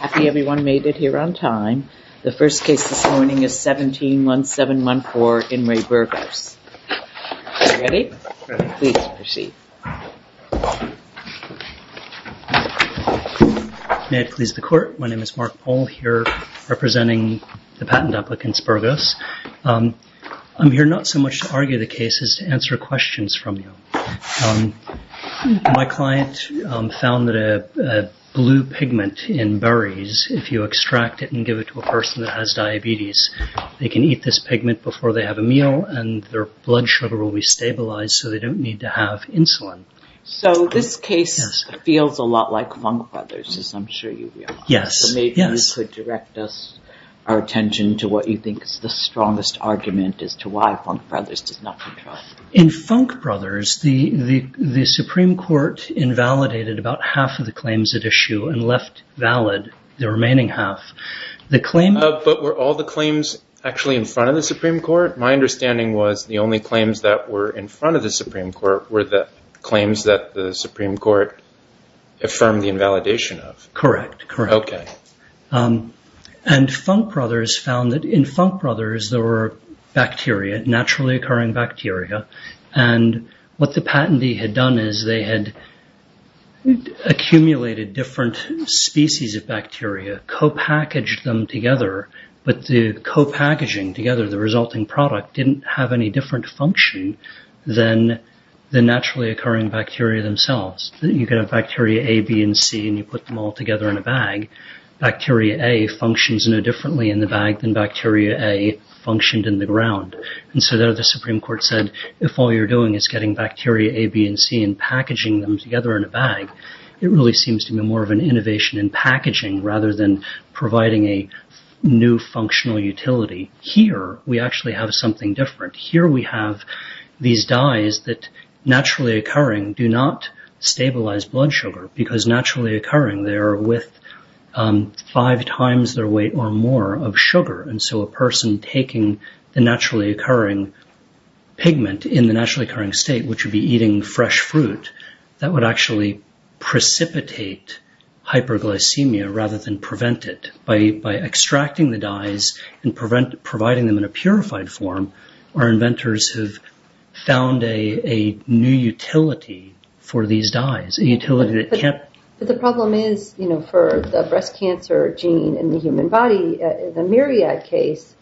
Happy everyone made it here on time. The first case this morning is 171714 In Re Burgos. Ready? Please proceed. May it please the court, my name is Mark Pohl here representing the patent applicants Burgos. I'm here not so much to argue the case as to answer questions from you. My client found that a blue pigment in berries, if you extract it and give it to a person that has diabetes, they can eat this pigment before they have a meal and their blood sugar will be stabilized so they don't need to have insulin. So this case feels a lot like Funk Brothers, as I'm sure you realize. Yes. So maybe you could direct our attention to what you think is the strongest argument as to why Funk Brothers does not control. In Funk Brothers, the Supreme Court invalidated about half of the claims at issue and left valid the remaining half. But were all the claims actually in front of the Supreme Court? My understanding was the only claims that were in front of the Supreme Court were the claims that the Supreme Court affirmed the invalidation of. Correct. Okay. And Funk Brothers found that in Funk Brothers there were bacteria, naturally occurring bacteria, and what the patentee had done is they had accumulated different species of bacteria, co-packaged them together, but the co-packaging together, the resulting product, didn't have any different function than the naturally occurring bacteria themselves. You can have bacteria A, B, and C and you put them all together in a bag. Bacteria A functions no differently in the bag than bacteria A functioned in the ground. And so there the Supreme Court said if all you're doing is getting bacteria A, B, and C and packaging them together in a bag, it really seems to be more of an innovation in packaging rather than providing a new functional utility. Here we actually have something different. Here we have these dyes that naturally occurring do not stabilize blood sugar, because naturally occurring they are with five times their weight or more of sugar. And so a person taking the naturally occurring pigment in the naturally occurring state, which would be eating fresh fruit, that would actually precipitate hyperglycemia rather than prevent it. By extracting the dyes and providing them in a purified form, our inventors have found a new utility for these dyes. But the problem is for the breast cancer gene in the human body, the Myriad case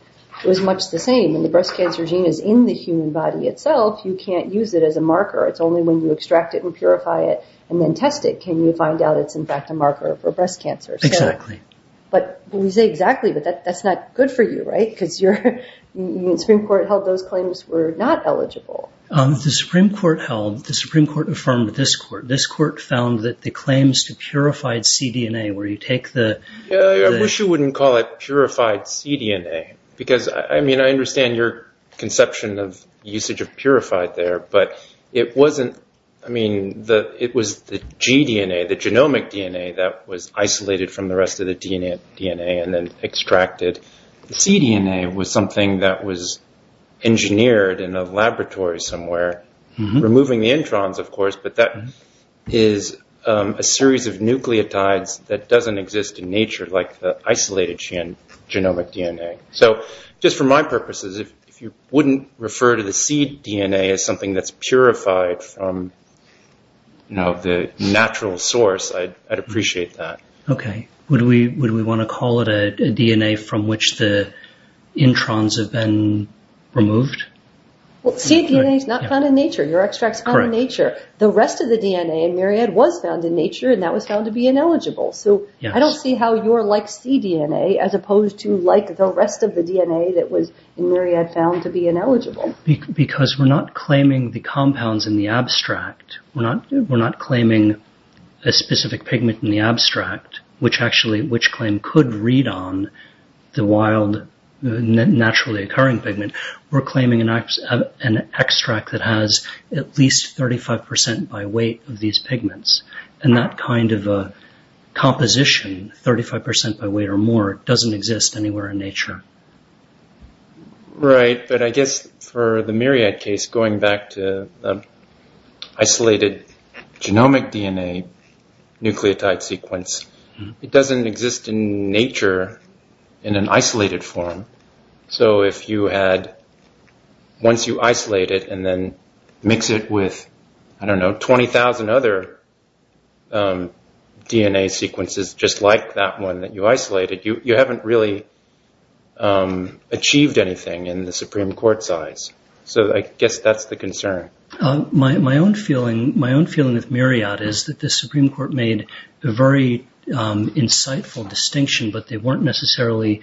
was much the same. When the breast cancer gene is in the human body itself, you can't use it as a marker. It's only when you extract it and purify it and then test it can you find out it's in fact a marker for breast cancer. Exactly. But when you say exactly, that's not good for you, right? Because the Supreme Court held those claims were not eligible. The Supreme Court held, the Supreme Court affirmed this court. This court found that the claims to purified cDNA where you take the… I wish you wouldn't call it purified cDNA, because I mean I understand your conception of usage of purified there, but it wasn't, I mean it was the gDNA, the genomic DNA that was isolated from the rest of the DNA and then extracted. The cDNA was something that was engineered in a laboratory somewhere, removing the introns of course, but that is a series of nucleotides that doesn't exist in nature like the isolated genomic DNA. So just for my purposes, if you wouldn't refer to the cDNA as something that's purified from the natural source, I'd appreciate that. Okay. Would we want to call it a DNA from which the introns have been removed? Well cDNA is not found in nature. Your extract is found in nature. The rest of the DNA in myriad was found in nature and that was found to be ineligible. So I don't see how you're like cDNA as opposed to like the rest of the DNA that was in myriad found to be ineligible. Because we're not claiming the compounds in the abstract. We're not claiming a specific pigment in the abstract, which actually which claim could read on the wild naturally occurring pigment. We're claiming an extract that has at least 35% by weight of these pigments. And that kind of a composition, 35% by weight or more, doesn't exist anywhere in nature. Right. But I guess for the myriad case, going back to isolated genomic DNA nucleotide sequence, it doesn't exist in nature in an isolated form. So if you had, once you isolate it and then mix it with, I don't know, 20,000 other DNA sequences just like that one that you isolated, you haven't really achieved anything in the Supreme Court size. So I guess that's the concern. My own feeling with myriad is that the Supreme Court made a very insightful distinction, but they weren't necessarily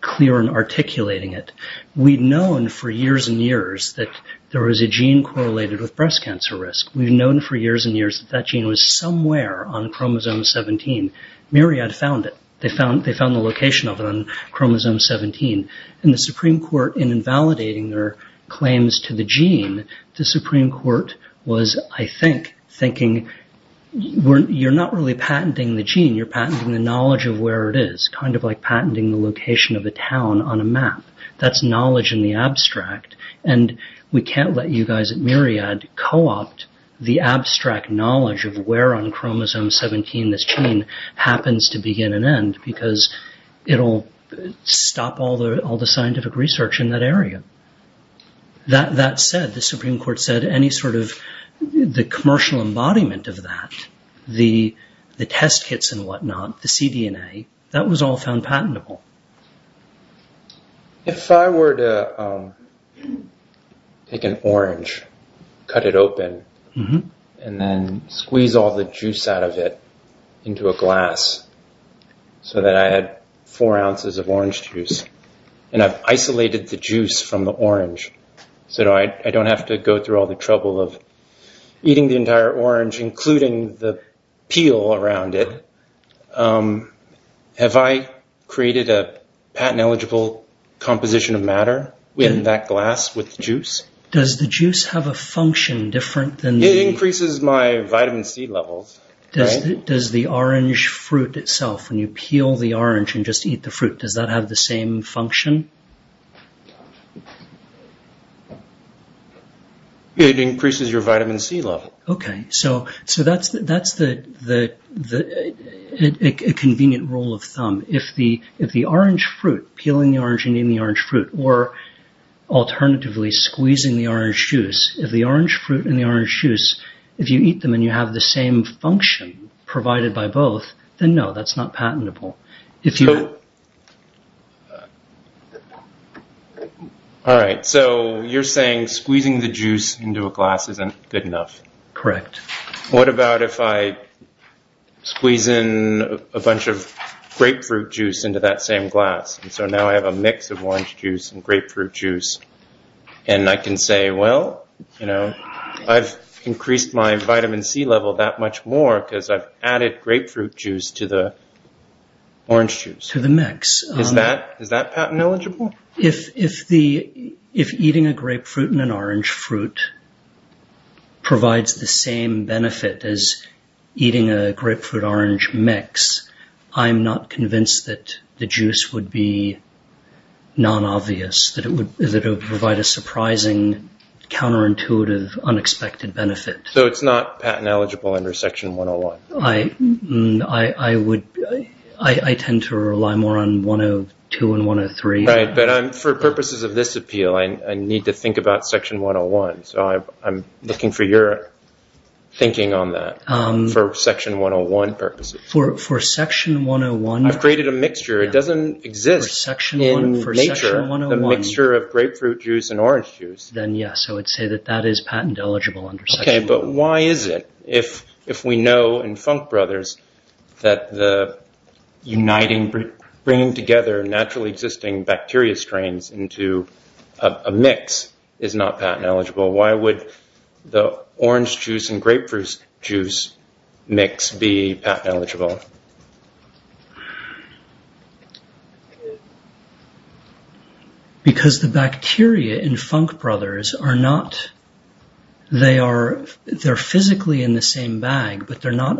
clear in articulating it. We'd known for years and years that there was a gene correlated with breast cancer risk. We've known for years and years that that gene was somewhere on chromosome 17. Myriad found it. They found the location of it on chromosome 17. And the Supreme Court, in invalidating their claims to the gene, the Supreme Court was, I think, thinking, you're not really patenting the gene, you're patenting the knowledge of where it is, kind of like patenting the location of a town on a map. That's knowledge in the abstract. And we can't let you guys at Myriad co-opt the abstract knowledge of where on chromosome 17 this gene happens to begin and end, because it'll stop all the scientific research in that area. That said, the Supreme Court said the commercial embodiment of that, the test kits and whatnot, the cDNA, that was all found patentable. If I were to take an orange, cut it open, and then squeeze all the juice out of it into a glass so that I had four ounces of orange juice, and I've isolated the juice from the orange so that I don't have to go through all the trouble of eating the entire orange, including the peel around it, have I created a patent-eligible composition of matter in that glass with the juice? Does the juice have a function different than the... It increases my vitamin C levels. Does the orange fruit itself, when you peel the orange and just eat the fruit, does that have the same function? It increases your vitamin C level. Okay, so that's a convenient rule of thumb. If the orange fruit, peeling the orange and eating the orange fruit, or alternatively squeezing the orange juice, if the orange fruit and the orange juice, if you eat them and you have the same function provided by both, then no, that's not patentable. All right, so you're saying squeezing the juice into a glass isn't good enough. Correct. What about if I squeeze in a bunch of grapefruit juice into that same glass? And so now I have a mix of orange juice and grapefruit juice. And I can say, well, I've increased my vitamin C level that much more because I've added grapefruit juice to the orange juice. To the mix. Is that patent-eligible? If eating a grapefruit and an orange fruit provides the same benefit as eating a grapefruit-orange mix, I'm not convinced that the juice would be non-obvious, that it would provide a surprising, counterintuitive, unexpected benefit. So it's not patent-eligible under Section 101? I tend to rely more on 102 and 103. Right, but for purposes of this appeal, I need to think about Section 101. So I'm looking for your thinking on that for Section 101 purposes. For Section 101? I've created a mixture. It doesn't exist in nature, the mixture of grapefruit juice and orange juice. Then, yes, I would say that that is patent-eligible under Section 101. Okay, but why is it, if we know in Funk Brothers that bringing together naturally existing bacteria strains into a mix is not patent-eligible, why would the orange juice and grapefruit juice mix be patent-eligible? Because the bacteria in Funk Brothers are physically in the same bag, but they're not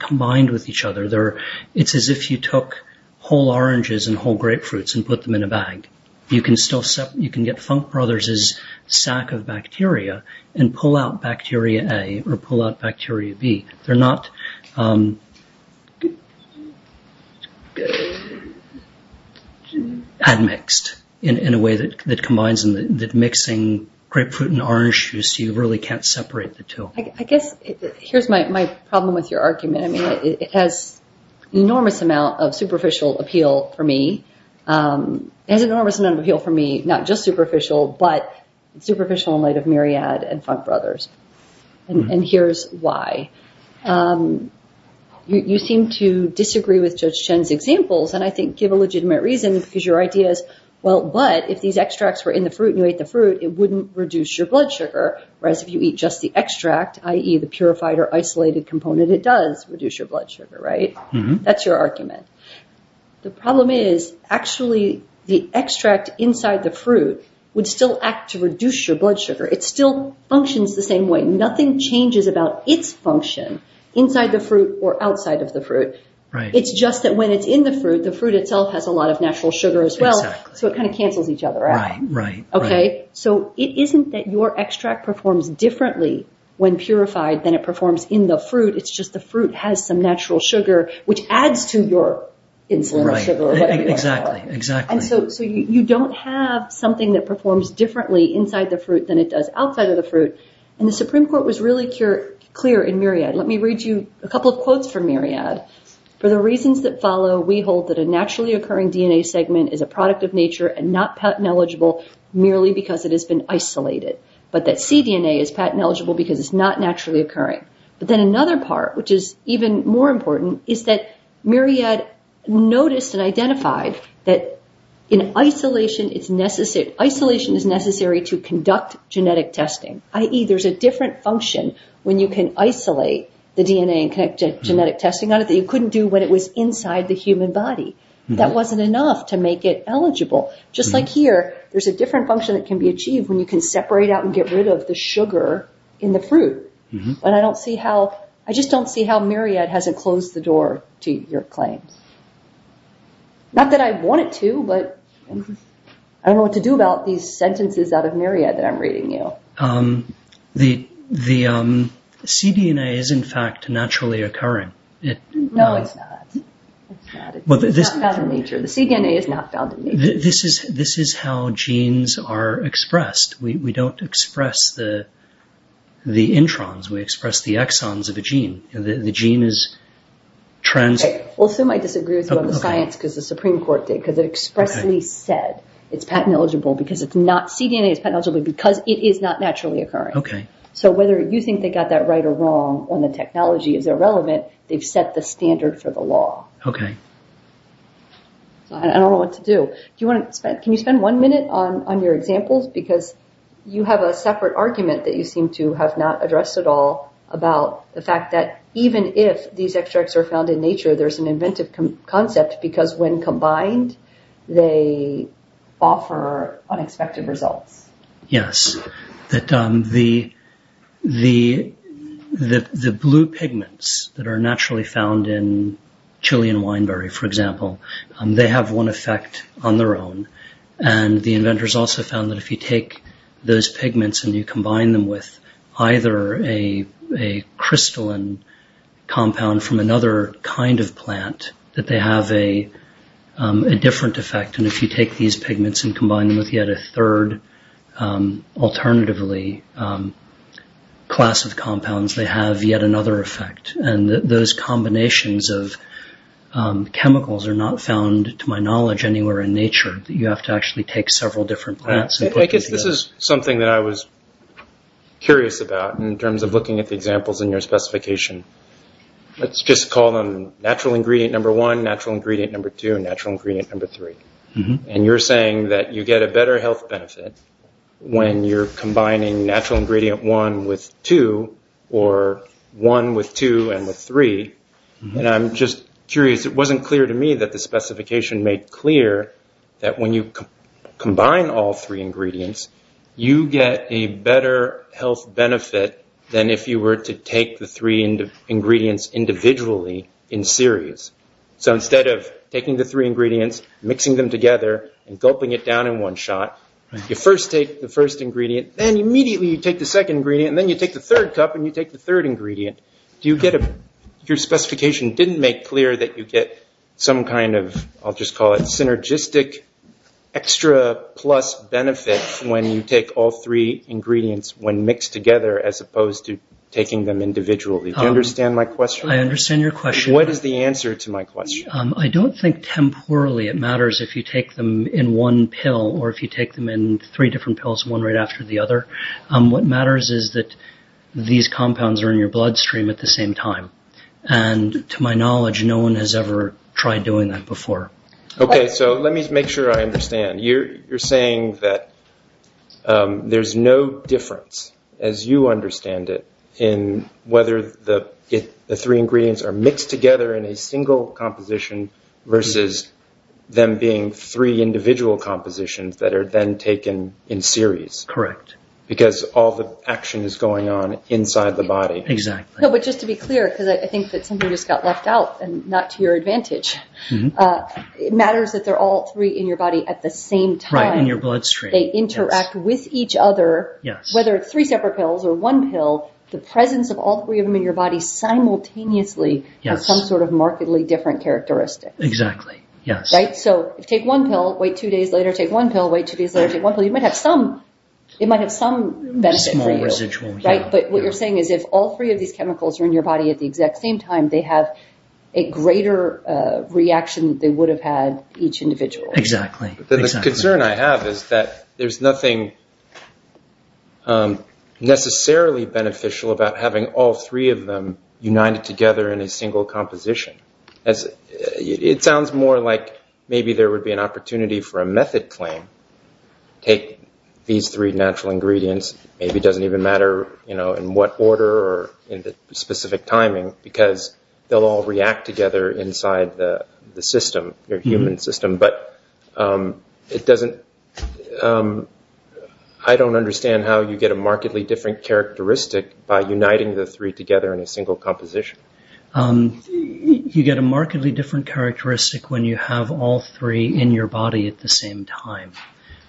combined with each other. It's as if you took whole oranges and whole grapefruits and put them in a bag. You can get Funk Brothers' sack of bacteria and pull out bacteria A or pull out bacteria B. They're not admixed in a way that combines. Mixing grapefruit and orange juice, you really can't separate the two. I guess here's my problem with your argument. It has an enormous amount of superficial appeal for me. It has an enormous amount of appeal for me, not just superficial, but superficial in light of Myriad and Funk Brothers. And here's why. You seem to disagree with Judge Chen's examples, and I think give a legitimate reason, because your idea is, well, but if these extracts were in the fruit and you ate the fruit, it wouldn't reduce your blood sugar, whereas if you eat just the extract, i.e., the purified or isolated component, it does reduce your blood sugar, right? That's your argument. The problem is, actually, the extract inside the fruit would still act to reduce your blood sugar. It still functions the same way. Nothing changes about its function inside the fruit or outside of the fruit. It's just that when it's in the fruit, the fruit itself has a lot of natural sugar as well, so it kind of cancels each other out. So it isn't that your extract performs differently when purified than it performs in the fruit. It's just the fruit has some natural sugar, which adds to your insulin sugar or whatever you want to call it. So you don't have something that performs differently inside the fruit than it does outside of the fruit, and the Supreme Court was really clear in Myriad. Let me read you a couple of quotes from Myriad. For the reasons that follow, we hold that a naturally occurring DNA segment is a product of nature and not patent-eligible merely because it has been isolated, but that cDNA is patent-eligible because it's not naturally occurring. But then another part, which is even more important, is that Myriad noticed and identified that isolation is necessary to conduct genetic testing, i.e. there's a different function when you can isolate the DNA and conduct genetic testing on it that you couldn't do when it was inside the human body. That wasn't enough to make it eligible. Just like here, there's a different function that can be achieved when you can separate out and get rid of the sugar in the fruit. I just don't see how Myriad hasn't closed the door to your claims. Not that I want it to, but I don't know what to do about these sentences out of Myriad that I'm reading you. The cDNA is, in fact, naturally occurring. No, it's not. It's not. It's not found in nature. The cDNA is not found in nature. This is how genes are expressed. We don't express the introns. We express the exons of a gene. Sue might disagree with you on the science because the Supreme Court did. It expressly said cDNA is patent-eligible because it is not naturally occurring. So whether you think they got that right or wrong or the technology is irrelevant, they've set the standard for the law. I don't know what to do. Can you spend one minute on your examples? Because you have a separate argument that you seem to have not addressed at all about the fact that even if these extracts are found in nature, there's an inventive concept because when combined, they offer unexpected results. Yes. The blue pigments that are naturally found in Chilean wineberry, for example, they have one effect on their own. And the inventors also found that if you take those pigments and you combine them with either a crystalline compound from another kind of plant, that they have a different effect. And if you take these pigments and combine them with yet a third alternatively class of compounds, they have yet another effect. And those combinations of chemicals are not found, to my knowledge, anywhere in nature. You have to actually take several different plants and put them together. I guess this is something that I was curious about in terms of looking at the examples in your specification. Let's just call them natural ingredient number one, natural ingredient number two, and natural ingredient number three. And you're saying that you get a better health benefit when you're combining natural ingredient one with two or one with two and with three. And I'm just curious. It wasn't clear to me that the specification made clear that when you combine all three ingredients, you get a better health benefit than if you were to take the three ingredients individually in series. So instead of taking the three ingredients, mixing them together, and gulping it down in one shot, you first take the first ingredient, then immediately you take the second ingredient, and then you take the third cup and you take the third ingredient. Your specification didn't make clear that you get some kind of synergistic extra plus benefit when you take all three ingredients when mixed together as opposed to taking them individually. Do you understand my question? I understand your question. What is the answer to my question? I don't think temporally it matters if you take them in one pill or if you take them in three different pills, one right after the other. What matters is that these compounds are in your bloodstream at the same time. And to my knowledge, no one has ever tried doing that before. Okay, so let me make sure I understand. You're saying that there's no difference, as you understand it, in whether the three ingredients are mixed together in a single composition versus them being three individual compositions that are then taken in series. Correct. Because all the action is going on inside the body. Exactly. But just to be clear, because I think that something just got left out and not to your advantage, it matters that they're all three in your body at the same time. Right, in your bloodstream. They interact with each other. Whether it's three separate pills or one pill, the presence of all three of them in your body simultaneously has some sort of markedly different characteristics. Exactly, yes. Right? So if you take one pill, wait two days later, take one pill, wait two days later, take one pill, you might have some benefit for you. A small residual. Right? But what you're saying is if all three of these chemicals are in your body at the exact same time, they have a greater reaction than they would have had each individual. Exactly. The concern I have is that there's nothing necessarily beneficial about having all three of them united together in a single composition. It sounds more like maybe there would be an opportunity for a method claim. Take these three natural ingredients. Maybe it doesn't even matter in what order or in the specific timing because they'll all react together inside the system, your human system. But I don't understand how you get a markedly different characteristic by uniting the three together in a single composition. You get a markedly different characteristic when you have all three in your body at the same time.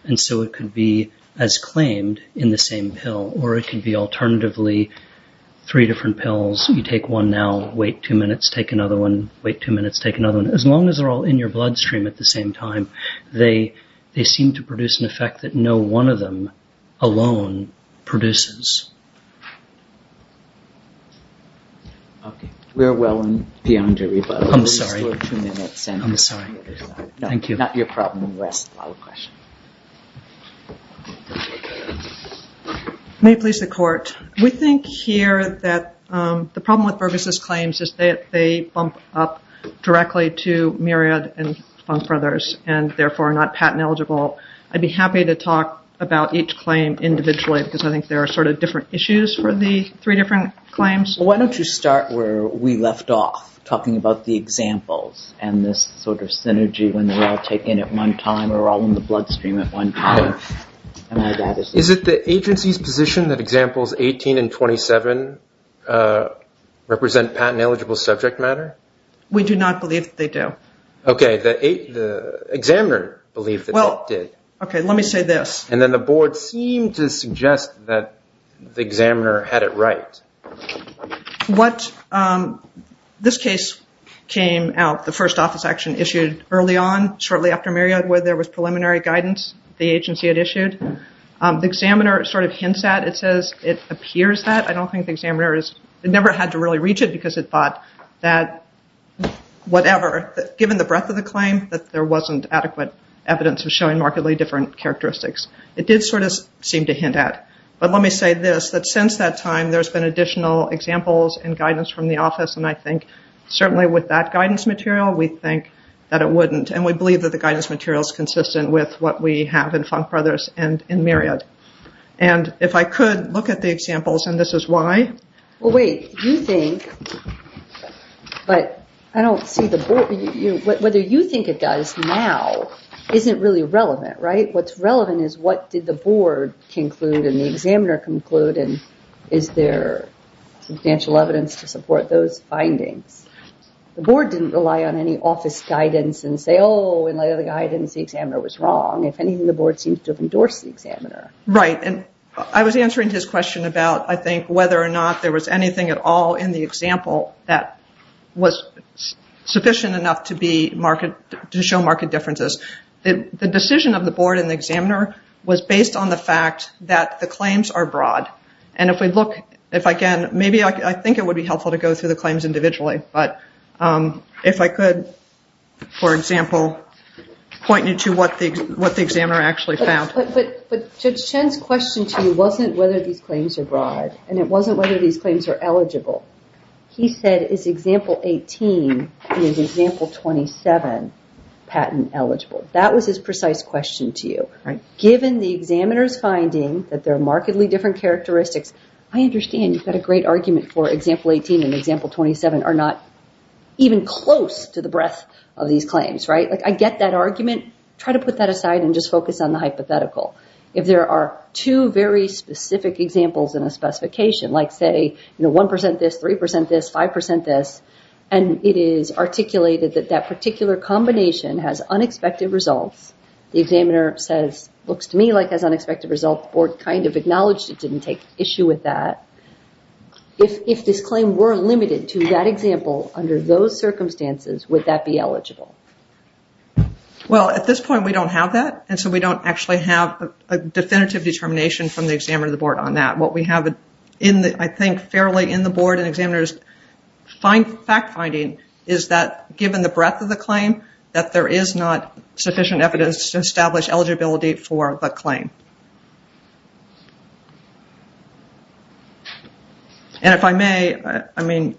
And so it could be as claimed in the same pill or it could be alternatively three different pills. You take one now, wait two minutes, take another one, wait two minutes, take another one. As long as they're all in your bloodstream at the same time, they seem to produce an effect that no one of them alone produces. We're well beyond your rebuttal. I'm sorry. Two minutes. I'm sorry. Thank you. Not your problem. We'll ask the follow-up question. May it please the court. We think here that the problem with Burgess's claims is that they bump up directly to Myriad and Funk Brothers and therefore are not patent eligible. I'd be happy to talk about each claim individually because I think there are sort of different issues for the three different claims. Why don't you start where we left off, talking about the examples and this sort of synergy when they're all taken at one time or all in the bloodstream at one time. Is it the agency's position that examples 18 and 27 represent patent eligible subject matter? We do not believe that they do. Okay. The examiner believed that they did. Okay. Let me say this. And then the board seemed to suggest that the examiner had it right. This case came out, the first office action issued early on, shortly after Myriad where there was preliminary guidance the agency had issued. The examiner sort of hints at it, says it appears that. I don't think the examiner has never had to really reach it because it thought that whatever, given the breadth of the claim that there wasn't adequate evidence of showing markedly different characteristics. It did sort of seem to hint at. But let me say this, that since that time there's been additional examples and guidance from the office and I think certainly with that guidance material we think that it wouldn't and we believe that the guidance material is consistent with what we have in Funk Brothers and in Myriad. And if I could look at the examples and this is why. Well, wait. You think, but I don't see the board. Whether you think it does now isn't really relevant, right? What's relevant is what did the board conclude and the examiner conclude and is there substantial evidence to support those findings? The board didn't rely on any office guidance and say, oh, in light of the guidance the examiner was wrong. If anything, the board seems to have endorsed the examiner. Right, and I was answering his question about, I think, whether or not there was anything at all in the example that was sufficient enough to show marked differences. The decision of the board and the examiner was based on the fact that the claims are broad. And if we look, if I can, maybe I think it would be helpful to go through the claims individually. But if I could, for example, point you to what the examiner actually found. But Judge Chen's question to you wasn't whether these claims are broad and it wasn't whether these claims are eligible. He said, is example 18 and example 27 patent eligible? That was his precise question to you. Given the examiner's finding that there are markedly different characteristics, I understand you've got a great argument for example 18 and example 27 are not even close to the breadth of these claims, right? I get that argument. Try to put that aside and just focus on the hypothetical. If there are two very specific examples in a specification, like say 1% this, 3% this, 5% this, and it is articulated that that particular combination has unexpected results, the examiner says, looks to me like it has unexpected results, the board kind of acknowledged it didn't take issue with that. If this claim were limited to that example under those circumstances, would that be eligible? Well, at this point we don't have that, and so we don't actually have a definitive determination from the examiner or the board on that. What we have, I think, fairly in the board and examiner's fact finding is that given the breadth of the claim, that there is not sufficient evidence to establish eligibility for the claim. And if I may, I mean,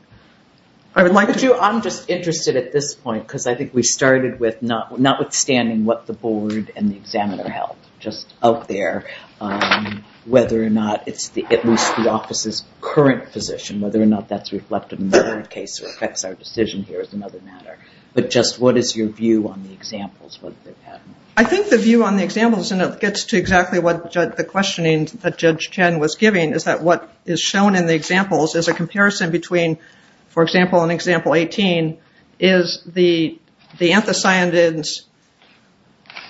I would like to... I'm just interested at this point because I think we started with not withstanding what the board and the examiner held, just out there, whether or not it's at least the office's current position, whether or not that's reflected in the case or affects our decision here is another matter. But just what is your view on the examples? I think the view on the examples, and it gets to exactly what the questioning that Judge Chen was giving, is that what is shown in the examples is a comparison between, for example, in example 18, is the anthocyanins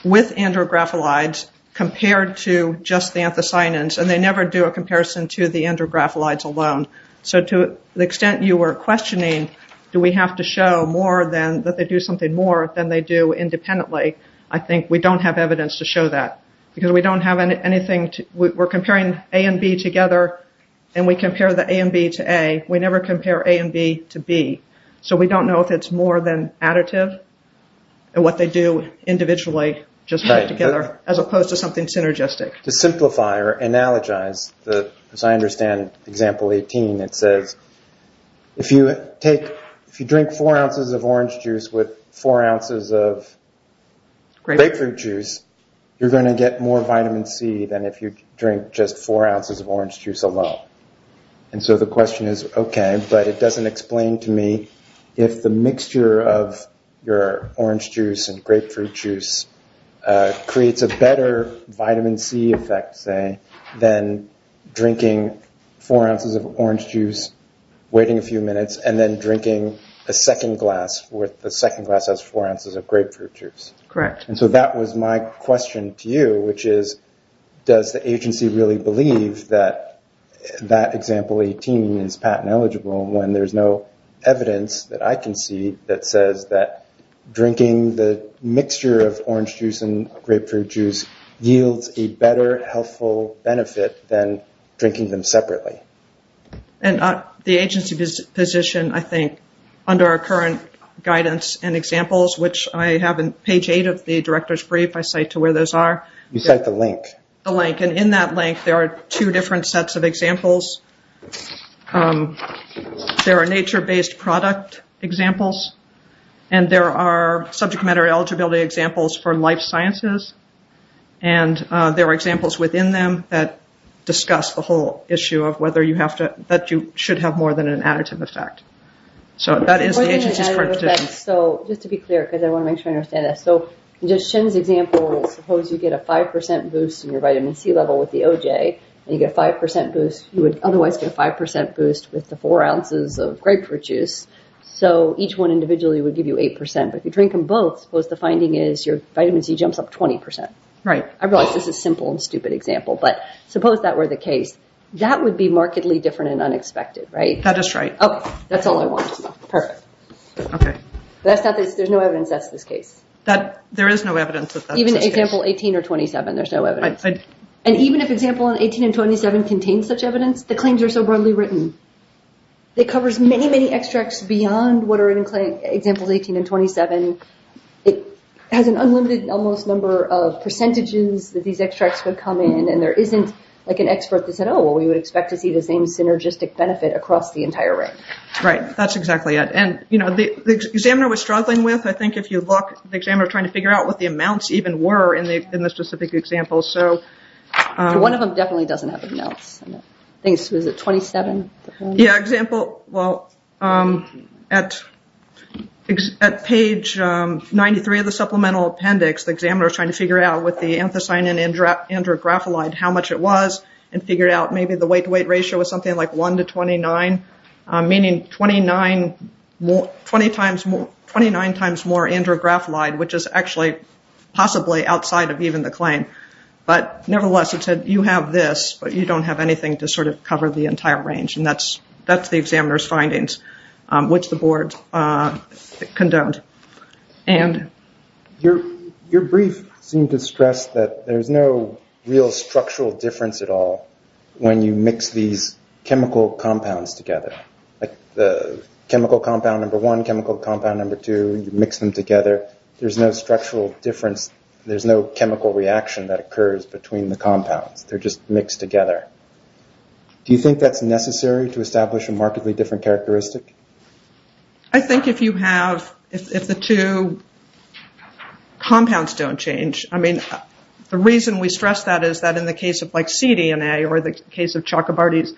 with andrographolides compared to just the anthocyanins, and they never do a comparison to the andrographolides alone. So to the extent you were questioning do we have to show more than that they do something more than they do independently, I think we don't have evidence to show that. Because we don't have anything... We're comparing A and B together, and we compare the A and B to A. We never compare A and B to B. So we don't know if it's more than additive and what they do individually just together, as opposed to something synergistic. To simplify or analogize, as I understand example 18, it says, if you drink four ounces of orange juice with four ounces of grapefruit juice, you're going to get more vitamin C than if you drink just four ounces of orange juice alone. So the question is, okay, but it doesn't explain to me if the mixture of your orange juice and grapefruit juice creates a better vitamin C effect, say, than drinking four ounces of orange juice, waiting a few minutes, and then drinking a second glass with the second glass has four ounces of grapefruit juice. Correct. And so that was my question to you, which is does the agency really believe that that example 18 is patent eligible when there's no evidence that I can see that says that drinking the mixture of orange juice and grapefruit juice yields a better healthful benefit than drinking them separately? And the agency position, I think, under our current guidance and examples, which I have in page 8 of the director's brief, I cite to where those are. You cite the link. The link. And in that link, there are two different sets of examples. There are nature-based product examples, and there are subject matter eligibility examples for life sciences, and there are examples within them that discuss the whole issue of whether you have to, that you should have more than an additive effect. So that is the agency's perspective. So just to be clear, because I want to make sure I understand this. So in Jim's example, suppose you get a 5% boost in your vitamin C level with the OJ, and you get a 5% boost. You would otherwise get a 5% boost with the four ounces of grapefruit juice. So each one individually would give you 8%. But if you drink them both, suppose the finding is your vitamin C jumps up 20%. Right. I realize this is a simple and stupid example, but suppose that were the case. That would be markedly different and unexpected, right? That is right. Okay. That's all I want to know. Perfect. Okay. There's no evidence that's this case. There is no evidence that that's this case. Even example 18 or 27, there's no evidence. And even if example 18 and 27 contain such evidence, the claims are so broadly written. It covers many, many extracts beyond what are in examples 18 and 27. It has an unlimited, almost number of percentages that these extracts would come in, and there isn't like an expert that said, oh, well, we would expect to see the same synergistic benefit across the entire range. Right. That's exactly it. And, you know, the examiner was struggling with, I think, if you look, the examiner was trying to figure out what the amounts even were in the specific example. So one of them definitely doesn't have amounts. I think it was at 27. Yeah, example, well, at page 93 of the supplemental appendix, the examiner was trying to figure out with the anthocyanin and andrographolide how much it was and figured out maybe the weight-to-weight ratio was something like 1 to 29, meaning 29 times more andrographolide, which is actually possibly outside of even the claim. But nevertheless, it said you have this, but you don't have anything to sort of cover the entire range. And that's the examiner's findings, which the board condoned. And your brief seemed to stress that there's no real structural difference at all when you mix these chemical compounds together, like the chemical compound number one, chemical compound number two, you mix them together. There's no structural difference. There's no chemical reaction that occurs between the compounds. They're just mixed together. Do you think that's necessary to establish a markedly different characteristic? I think if you have, if the two compounds don't change, I mean, the reason we stress that is that in the case of like cDNA or the case of Chakrabarty's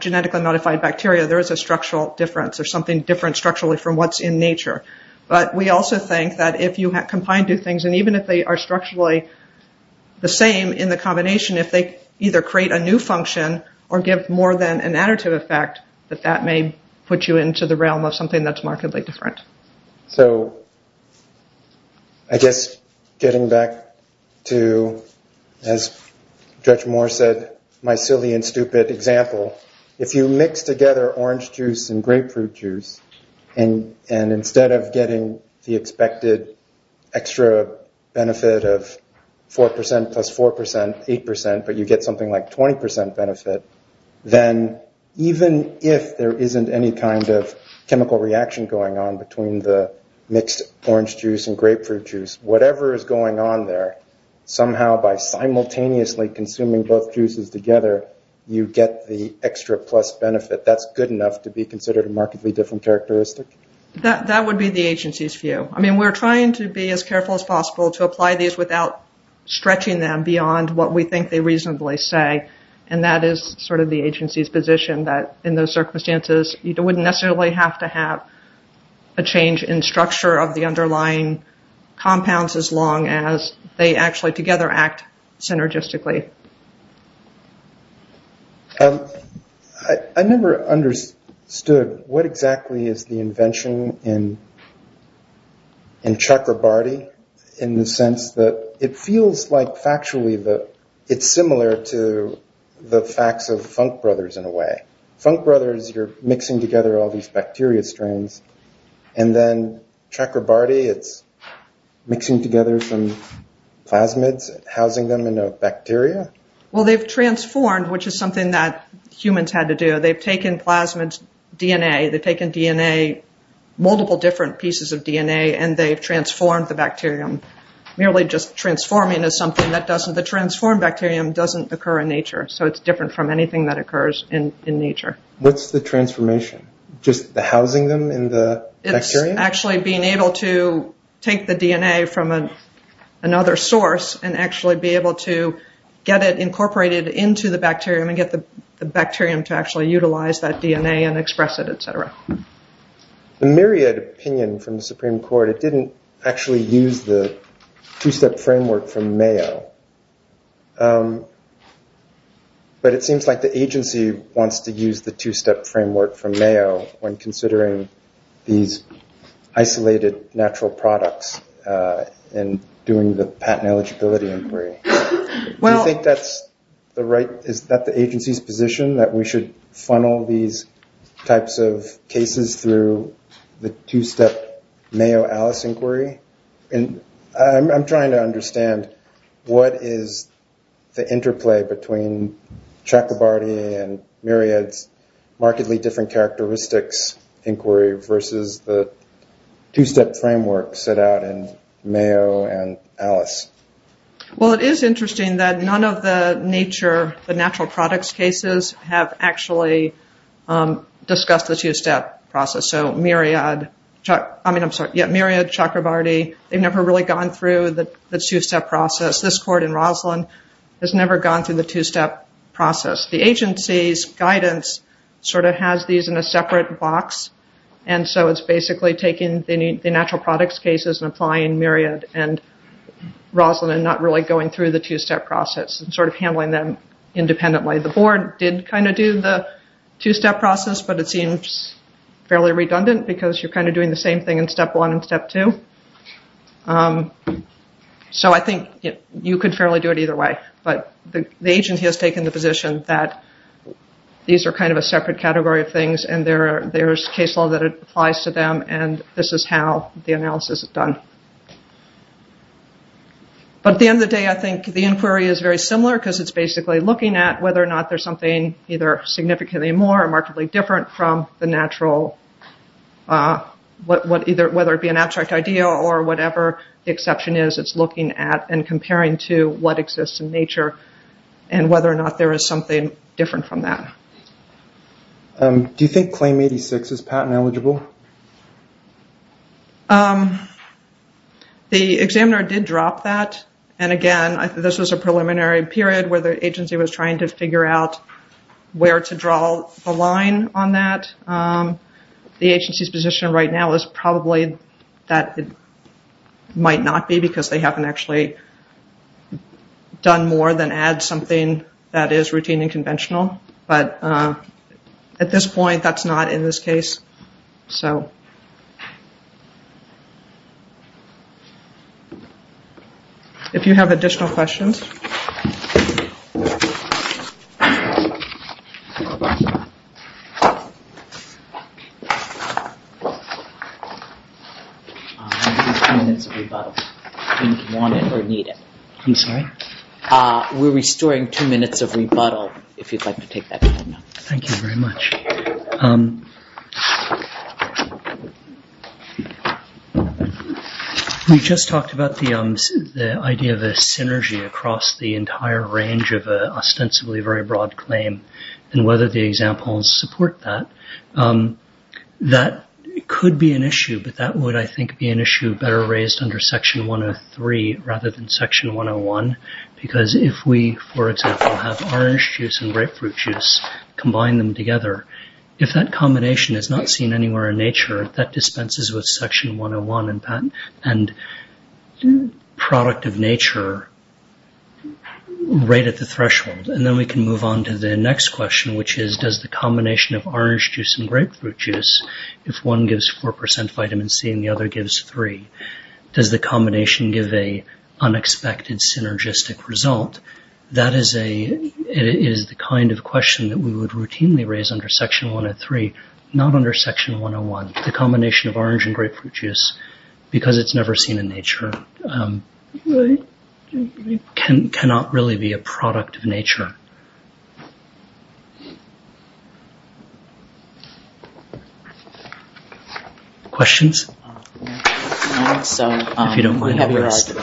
genetically modified bacteria, there is a structural difference or something different structurally from what's in nature. But we also think that if you combine two things, and even if they are structurally the same in the combination, if they either create a new function or give more than an additive effect, that that may put you into the realm of something that's markedly different. So I guess getting back to, as Judge Moore said, my silly and stupid example, if you mix together orange juice and grapefruit juice, and instead of getting the expected extra benefit of 4% plus 4%, 8%, but you get something like 20% benefit, then even if there isn't any kind of chemical reaction going on between the mixed orange juice and grapefruit juice, whatever is going on there, somehow by simultaneously consuming both juices together, you get the extra plus benefit. That's good enough to be considered a markedly different characteristic? That would be the agency's view. I mean, we're trying to be as careful as possible to apply these without stretching them beyond what we think they reasonably say, and that is sort of the agency's position, that in those circumstances, you wouldn't necessarily have to have a change in structure of the underlying compounds as long as they actually together act synergistically. I never understood what exactly is the invention in Chakrabarti in the sense that it feels like, factually, it's similar to the facts of Funk Brothers in a way. Funk Brothers, you're mixing together all these bacteria strains, and then Chakrabarti, it's mixing together some plasmids, housing them in a bacteria? Well, they've transformed, which is something that humans had to do. They've taken plasmids' DNA, they've taken DNA, multiple different pieces of DNA, and they've transformed the bacterium. Merely just transforming is something that doesn't, the transformed bacterium doesn't occur in nature, so it's different from anything that occurs in nature. What's the transformation? Just the housing them in the bacterium? It's actually being able to take the DNA from another source and actually be able to get it incorporated into the bacterium and get the bacterium to actually utilize that DNA and express it, et cetera. The myriad opinion from the Supreme Court, it didn't actually use the two-step framework from Mayo, but it seems like the agency wants to use the two-step framework from Mayo when considering these isolated natural products and doing the patent eligibility inquiry. Do you think that's the right, is that the agency's position, that we should funnel these types of cases through the two-step Mayo Alice inquiry? I'm trying to understand what is the interplay between Chakrabarty and Myriad's markedly different characteristics inquiry versus the two-step framework set out in Mayo and Alice. Well, it is interesting that none of the nature, the natural products cases, have actually discussed the two-step process. So Myriad, Chakrabarty, they've never really gone through the two-step process. This court in Roslyn has never gone through the two-step process. The agency's guidance sort of has these in a separate box, and so it's basically taking the natural products cases and applying Myriad and Roslyn and not really going through the two-step process and sort of handling them independently. The board did kind of do the two-step process, but it seems fairly redundant because you're kind of doing the same thing in step one and step two. So I think you could fairly do it either way. But the agency has taken the position that these are kind of a separate category of things and there's case law that applies to them, and this is how the analysis is done. But at the end of the day, I think the inquiry is very similar because it's basically looking at whether or not there's something either significantly more or markedly different from the natural, whether it be an abstract idea or whatever the exception is, it's looking at and comparing to what exists in nature and whether or not there is something different from that. Do you think Claim 86 is patent eligible? The examiner did drop that, and again, this was a preliminary period where the agency was trying to figure out where to draw the line on that. The agency's position right now is probably that it might not be because they haven't actually done more than add something that is routine and conventional. But at this point, that's not in this case. If you have additional questions. We're restoring two minutes of rebuttal, if you'd like to take that. Thank you very much. We just talked about the idea of a synergy across the entire range of an ostensibly very broad claim and whether the examples support that. That could be an issue, but that would, I think, be an issue better raised under Section 103 rather than Section 101 because if we, for example, have orange juice and grapefruit juice, combine them together, if that combination is not seen anywhere in nature, that dispenses with Section 101 and product of nature right at the threshold. Then we can move on to the next question, which is does the combination of orange juice and grapefruit juice, if one gives 4% vitamin C and the other gives 3%, does the combination give an unexpected synergistic result? That is the kind of question that we would routinely raise under Section 103, not under Section 101. The combination of orange and grapefruit juice, because it's never seen in nature, is a good question. Questions? If you don't mind, have a rest.